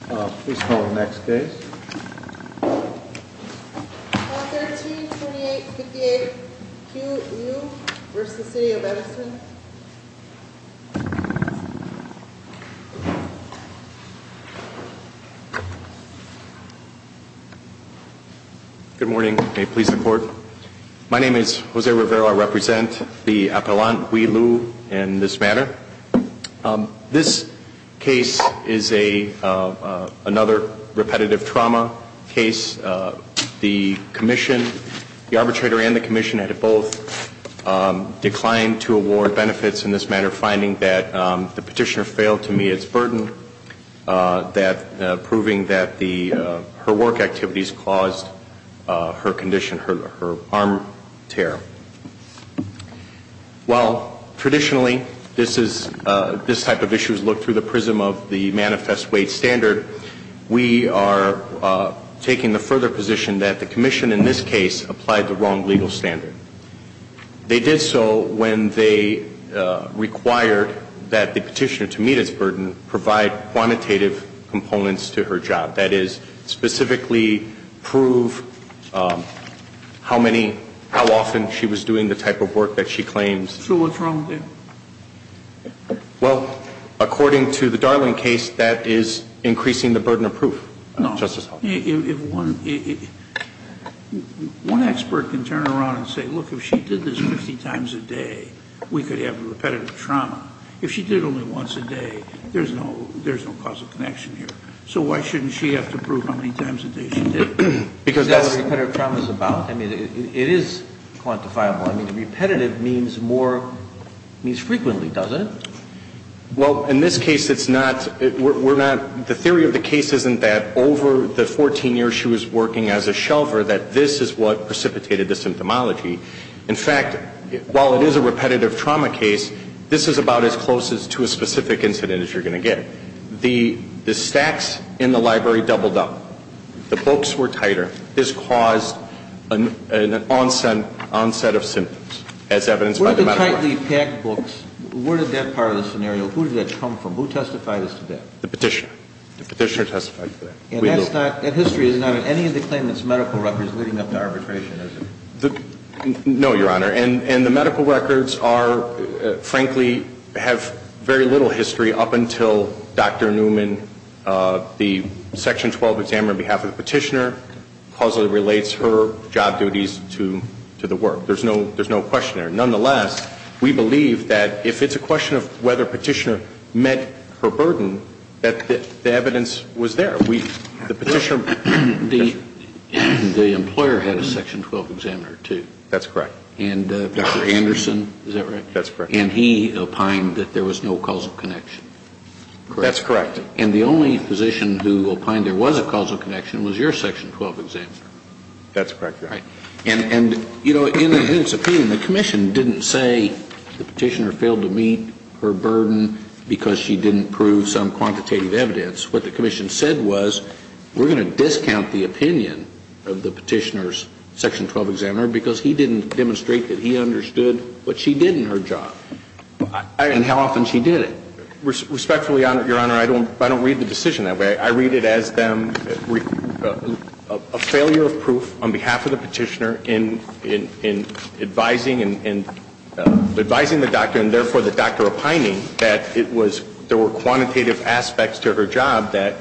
Please call the next case. 13-28-58 Hue-Liu v. City of Edison Good morning. May it please the Court. My name is Jose Rivera. I represent the appellant, Hue-Liu, in this matter. This case is another repetitive trauma case. The arbitrator and the Commission had both declined to award benefits in this matter, finding that the petitioner failed to meet its burden, proving that her work activities caused her condition, her arm tear. While traditionally this type of issue is looked through the prism of the manifest wage standard, we are taking the further position that the Commission in this case applied the wrong legal standard. They did so when they required that the petitioner, to meet its burden, provide quantitative components to her job. That is, specifically prove how many, how often she was doing the type of work that she claims. So what's wrong with that? Well, according to the Darling case, that is increasing the burden of proof. No. Justice Hall. If one expert can turn around and say, look, if she did this 50 times a day, we could have repetitive trauma. If she did it only once a day, there's no causal connection here. So why shouldn't she have to prove how many times a day she did it? Because that's what repetitive trauma is about. I mean, it is quantifiable. I mean, repetitive means more, means frequently, doesn't it? Well, in this case, it's not, we're not, the theory of the case isn't that over the 14 years she was working as a shelver, that this is what precipitated the symptomology. In fact, while it is a repetitive trauma case, this is about as close to a specific incident as you're going to get. The stacks in the library doubled up. The books were tighter. This caused an onset of symptoms, as evidenced by the medical records. Where did the tightly packed books, where did that part of the scenario, who did that come from? Who testified as to that? The Petitioner. The Petitioner testified to that. And that's not, that history is not in any of the claimants' medical records leading up to arbitration, is it? No, Your Honor. And the medical records are, frankly, have very little history up until Dr. Newman, the Section 12 examiner on behalf of the Petitioner, causally relates her job duties to the work. There's no question there. Nonetheless, we believe that if it's a question of whether Petitioner met her burden, that the evidence was there. The Petitioner, the employer had a Section 12 examiner, too. That's correct. And Dr. Anderson, is that right? That's correct. And he opined that there was no causal connection. That's correct. And the only physician who opined there was a causal connection was your Section 12 examiner. That's correct, Your Honor. And, you know, in its opinion, the Commission didn't say the Petitioner failed to meet her burden because she didn't prove some quantitative evidence. What the Commission said was, we're going to discount the opinion of the Petitioner's Section 12 examiner because he didn't demonstrate that he understood what she did in her job and how often she did it. Respectfully, Your Honor, I don't read the decision that way. I read it as a failure of proof on behalf of the Petitioner in advising the doctor and, therefore, the doctor opining that there were quantitative aspects to her job that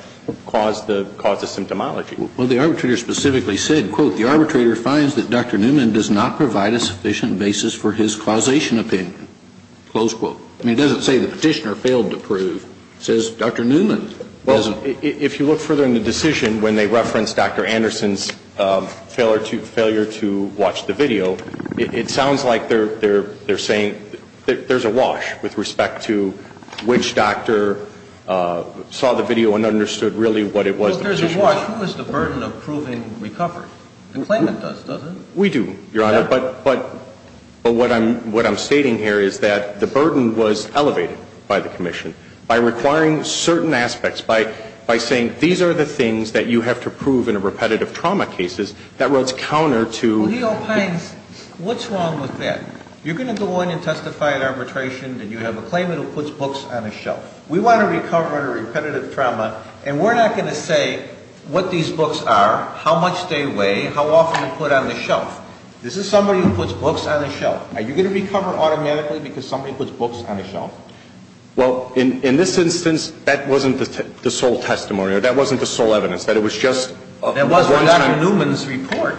caused the symptomology. Well, the arbitrator specifically said, quote, the arbitrator finds that Dr. Newman does not provide a sufficient basis for his causation opinion, close quote. I mean, it doesn't say the Petitioner failed to prove. It says Dr. Newman doesn't. Well, if you look further in the decision when they reference Dr. Anderson's failure to watch the video, it sounds like they're saying there's a wash with respect to which doctor saw the video and understood really what it was. Well, if there's a wash, who has the burden of proving recovery? The claimant does, doesn't it? We do, Your Honor. But what I'm stating here is that the burden was elevated by the Commission. By requiring certain aspects, by saying these are the things that you have to prove in repetitive trauma cases, that runs counter to Well, he opines, what's wrong with that? You're going to go on and testify at arbitration and you have a claimant who puts books on a shelf. We want to recover under repetitive trauma, and we're not going to say what these books are, how much they weigh, how often you put on the shelf. This is somebody who puts books on a shelf. Are you going to recover automatically because somebody puts books on a shelf? Well, in this instance, that wasn't the sole testimony, or that wasn't the sole evidence, that it was just There was one on Newman's report.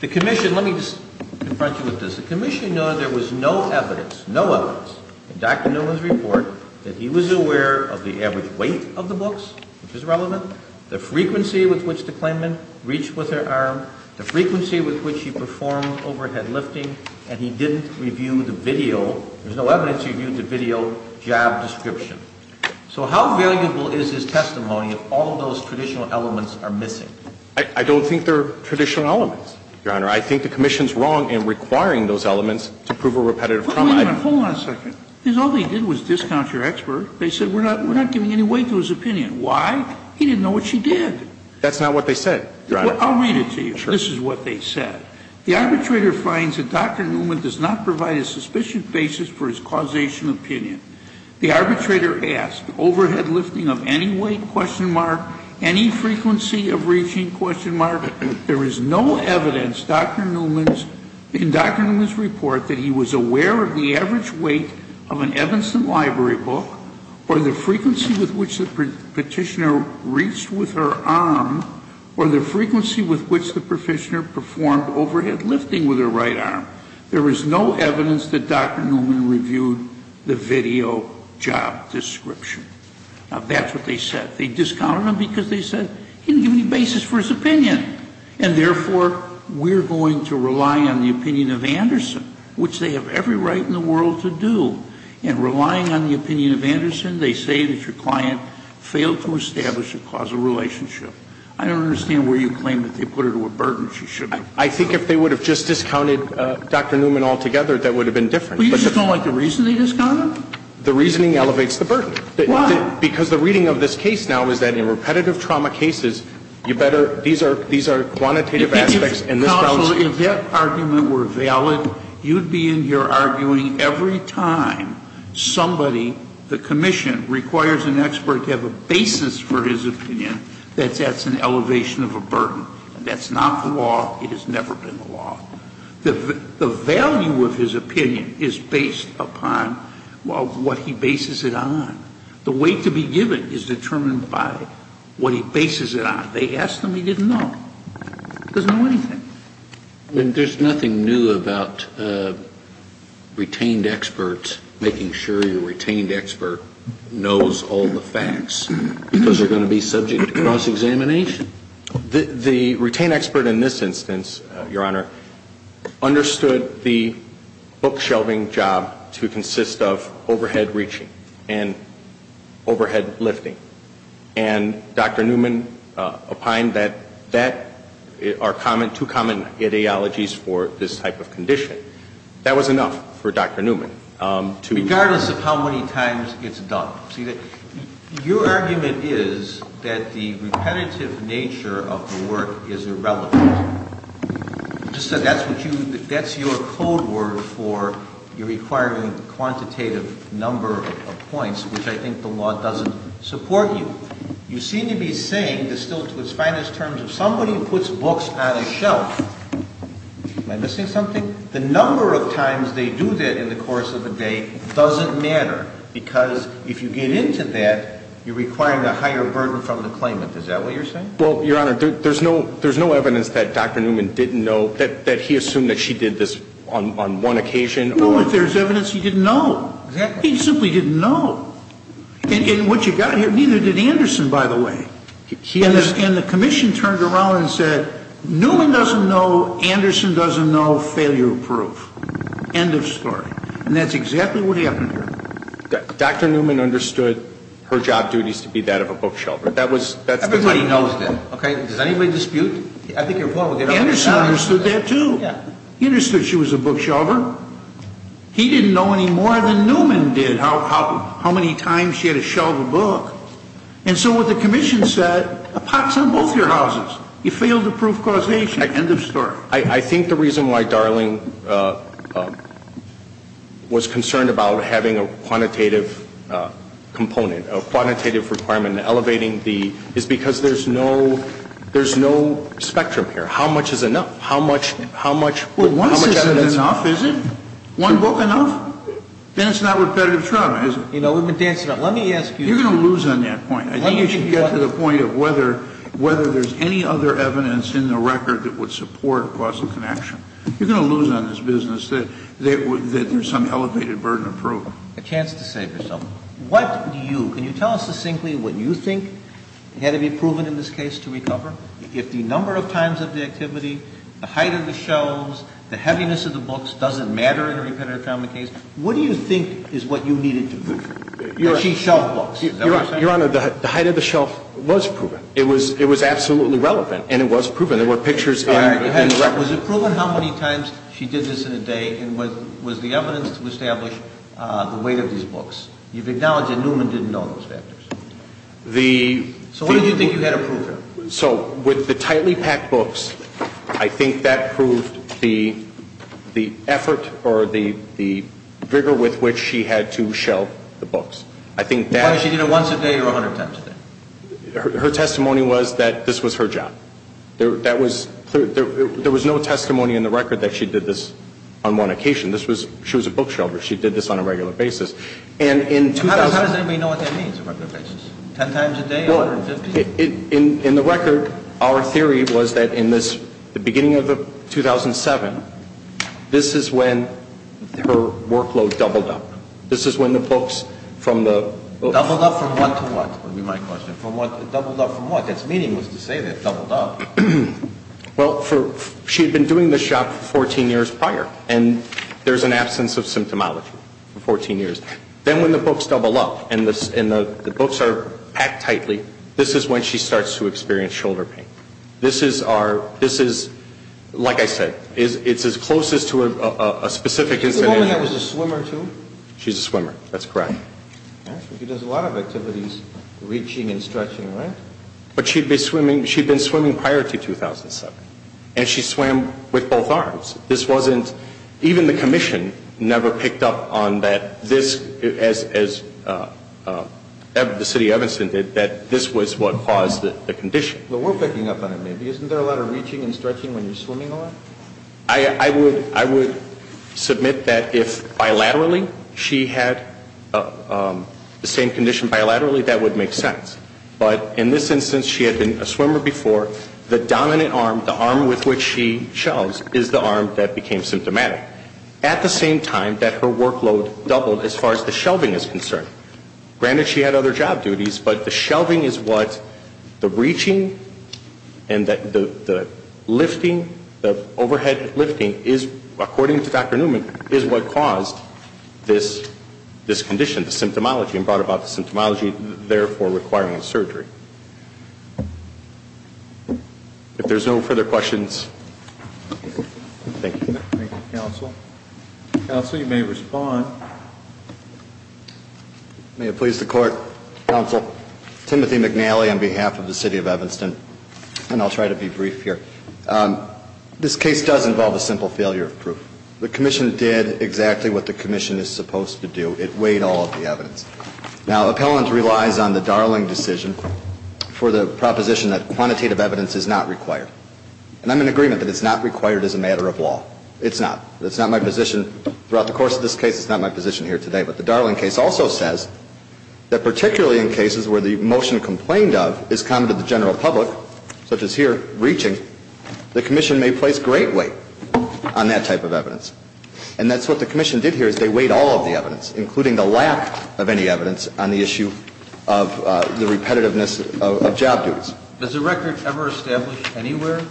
The Commission, let me just confront you with this. The Commission noted there was no evidence, no evidence, in Dr. Newman's report that he was aware of the average weight of the books, which is relevant, the frequency with which the claimant reached with their arm, the frequency with which he performed overhead lifting, and he didn't review the video. There's no evidence he reviewed the video job description. So how valuable is his testimony if all of those traditional elements are missing? I don't think they're traditional elements, Your Honor. I think the Commission's wrong in requiring those elements to prove a repetitive trauma. Hold on a second. All they did was discount your expert. They said we're not giving any weight to his opinion. Why? He didn't know what she did. That's not what they said, Your Honor. I'll read it to you. This is what they said. The arbitrator finds that Dr. Newman does not provide a suspicion basis for his causation opinion. The arbitrator asked, overhead lifting of any weight, question mark, any frequency of reaching, question mark. There is no evidence, Dr. Newman's, in Dr. Newman's report, that he was aware of the average weight of an Evanston Library book, or the frequency with which the petitioner reached with her arm, or the frequency with which the petitioner performed overhead lifting with her right arm. There is no evidence that Dr. Newman reviewed the video job description. Now, that's what they said. They discounted him because they said he didn't give any basis for his opinion. And therefore, we're going to rely on the opinion of Anderson, which they have every right in the world to do. And relying on the opinion of Anderson, they say that your client failed to establish a causal relationship. I don't understand where you claim that they put her to a burden. She shouldn't have. I think if they would have just discounted Dr. Newman altogether, that would have been different. But you just don't like the reason they discounted him? The reasoning elevates the burden. Why? Because the reading of this case now is that in repetitive trauma cases, you better, these are, these are quantitative aspects, and this counts. Counsel, if that argument were valid, you'd be in here arguing every time somebody, the commission, requires an expert to have a basis for his opinion, that that's an elevation of a burden. That's not the law. It has never been the law. The value of his opinion is based upon what he bases it on. The weight to be given is determined by what he bases it on. They asked him. He didn't know. He doesn't know anything. There's nothing new about retained experts making sure your retained expert knows all the facts, because they're going to be subject to cross-examination. The retained expert in this instance, Your Honor, understood the book-shelving job to consist of overhead reaching and overhead lifting. And Dr. Newman opined that that are common, two common ideologies for this type of condition. That was enough for Dr. Newman. Regardless of how many times it's done. See, your argument is that the repetitive nature of the work is irrelevant. You just said that's what you, that's your code word for your requiring quantitative number of points, which I think the law doesn't support you. You seem to be saying, distilled to its finest terms, if somebody puts books on a shelf, am I missing something? The number of times they do that in the course of a day doesn't matter, because if you get into that, you're requiring a higher burden from the claimant. Is that what you're saying? Well, Your Honor, there's no evidence that Dr. Newman didn't know, that he assumed that she did this on one occasion. No, if there's evidence he didn't know. Exactly. He simply didn't know. And what you've got here, neither did Anderson, by the way. And the commission turned around and said, Newman doesn't know, Anderson doesn't know, failure-proof. End of story. And that's exactly what happened here. Dr. Newman understood her job duties to be that of a bookshelver. Everybody knows that, okay? Does anybody dispute? Anderson understood that, too. He understood she was a bookshelver. He didn't know any more than Newman did how many times she had to shelve a book. And so what the commission said, a pot's on both your houses. You failed to prove causation. End of story. I think the reason why Darling was concerned about having a quantitative component, a quantitative requirement elevating the, is because there's no spectrum here. How much is enough? How much evidence? Well, one book isn't enough, is it? One book enough? Then it's not repetitive trauma, is it? You know, we've been dancing around. Let me ask you. You're going to lose on that point. I think you should get to the point of whether there's any other evidence in the record that would support causal connection. You're going to lose on this business that there's some elevated burden of proof. A chance to save yourself. What do you, can you tell us succinctly what you think had to be proven in this case to recover? If the number of times of the activity, the height of the shelves, the heaviness of the books doesn't matter in a repetitive trauma case, what do you think is what you needed to prove? That she shelved books. Is that what you're saying? Your Honor, the height of the shelf was proven. It was absolutely relevant, and it was proven. There were pictures in the record. All right. Was it proven how many times she did this in a day, and was the evidence to establish the weight of these books? You've acknowledged that Newman didn't know those factors. The... So what did you think you had to prove here? So with the tightly packed books, I think that proved the effort or the rigor with which she had to shelve the books. I think that... Was she doing it once a day or 100 times a day? Her testimony was that this was her job. That was clear. There was no testimony in the record that she did this on one occasion. This was, she was a book shelver. She did this on a regular basis. And in 2000... How does anybody know what that means, on a regular basis? 10 times a day, 150? In the record, our theory was that in this, the beginning of 2007, this is when her workload doubled up. This is when the books from the... Doubled up from what to what, would be my question. Doubled up from what? That's meaningless to say that doubled up. Well, she had been doing this job for 14 years prior, and there's an absence of symptomology for 14 years. Then when the books double up, and the books are packed tightly, this is when she starts to experience shoulder pain. This is our, this is, like I said, it's as close as to a specific incident... You told me that was a swimmer, too? She's a swimmer. That's correct. She does a lot of activities, reaching and stretching, right? But she'd be swimming, she'd been swimming prior to 2007. And she swam with both arms. This wasn't, even the commission never picked up on that this, as the city of Evanston did, that this was what caused the condition. Well, we're picking up on it, maybe. Isn't there a lot of reaching and stretching when you're swimming a lot? I would, I would submit that if bilaterally she had the same condition bilaterally, that would make sense. But in this instance, she had been a swimmer before. The dominant arm, the arm with which she shelves, is the arm that became symptomatic. At the same time, that her workload doubled as far as the shelving is concerned. Granted, she had other job duties, but the shelving is what the reaching and the lifting, the overhead lifting is, according to Dr. Newman, is what caused this condition, the symptomology, and brought about the symptomology, therefore requiring surgery. If there's no further questions, thank you. Thank you, counsel. Counsel, you may respond. May it please the court, counsel, Timothy McNally on behalf of the city of Evanston. Thank you, counsel. I'm going to ask a question and I'll try to be brief here. This case does involve a simple failure of proof. The commission did exactly what the commission is supposed to do. It weighed all of the evidence. Now, appellant relies on the Darling decision for the proposition that quantitative evidence is not required. And I'm in agreement that it's not required as a matter of law. It's not. That's not my position throughout the course of this case. It's not my position here today. But the Darling case also says that particularly in cases where the motion complained of is common to the general public, such as here, reaching, the commission may place great weight on that type of evidence. And that's what the commission did here is they weighed all of the evidence, including the lack of any evidence on the issue of the repetitiveness of job duties. Does the record ever establish anywhere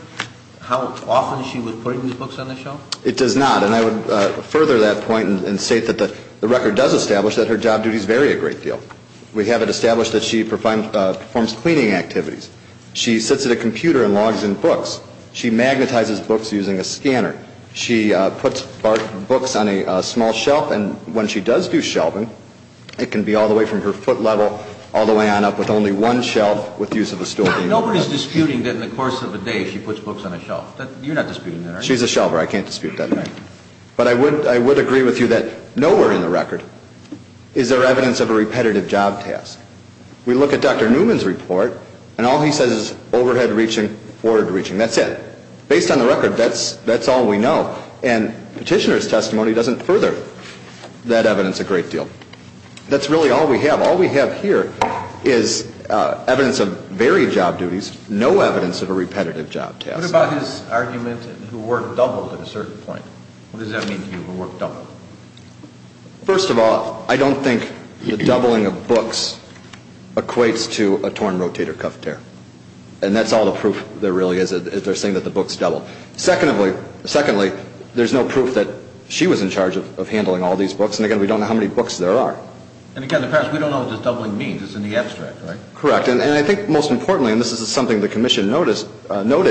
how often she was putting these books on the shelf? It does not. And I would further that point and state that the record does establish that her job duties vary a great deal. We have it established that she performs cleaning activities. She sits at a computer and logs in books. She magnetizes books using a scanner. She puts books on a small shelf, and when she does do shelving, it can be all the way from her foot level all the way on up with only one shelf with the use of a stool. Nobody is disputing that in the course of a day she puts books on a shelf. You're not disputing that, are you? She's a shelver. I can't dispute that. But I would agree with you that nowhere in the record is there evidence of a repetitive job task. We look at Dr. Newman's report, and all he says is overhead reaching, forward reaching. That's it. Based on the record, that's all we know. And Petitioner's testimony doesn't further that evidence a great deal. That's really all we have. All we have here is evidence of varied job duties, no evidence of a repetitive job task. What about his argument who work doubled at a certain point? What does that mean to you, who work doubled? First of all, I don't think the doubling of books equates to a torn rotator cuff tear. And that's all the proof there really is, is they're saying that the books doubled. Secondly, there's no proof that she was in charge of handling all these books, and, again, we don't know how many books there are. And, again, we don't know what this doubling means. It's in the abstract, right? Correct. And I think most importantly, and this is something the Commission noted,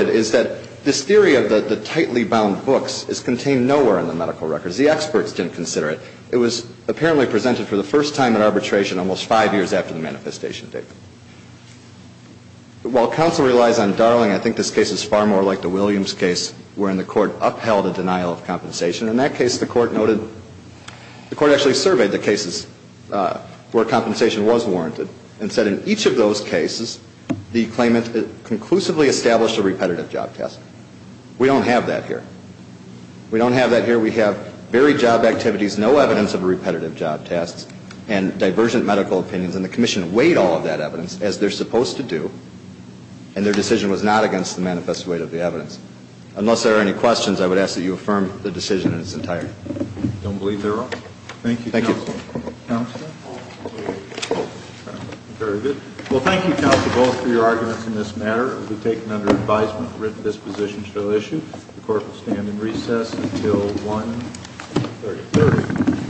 is that this theory of the tightly bound books is contained nowhere in the medical records. The experts didn't consider it. It was apparently presented for the first time in arbitration almost five years after the manifestation date. While counsel relies on Darling, I think this case is far more like the Williams case, wherein the Court upheld a denial of compensation. In that case, the Court noted, the Court actually surveyed the cases where compensation was warranted and said in each of those cases, the claimant conclusively established a repetitive job test. We don't have that here. We don't have that here. We have varied job activities, no evidence of a repetitive job test, and divergent medical opinions, and the Commission weighed all of that evidence, as they're supposed to do, and their decision was not against the manifest weight of the evidence. Unless there are any questions, I would ask that you affirm the decision in its entirety. I don't believe there are. Thank you, counsel. Thank you. Very good. Well, thank you, counsel, both for your arguments in this matter. It will be taken under advisement that this position shall issue. The Court will stand in recess until 1-33.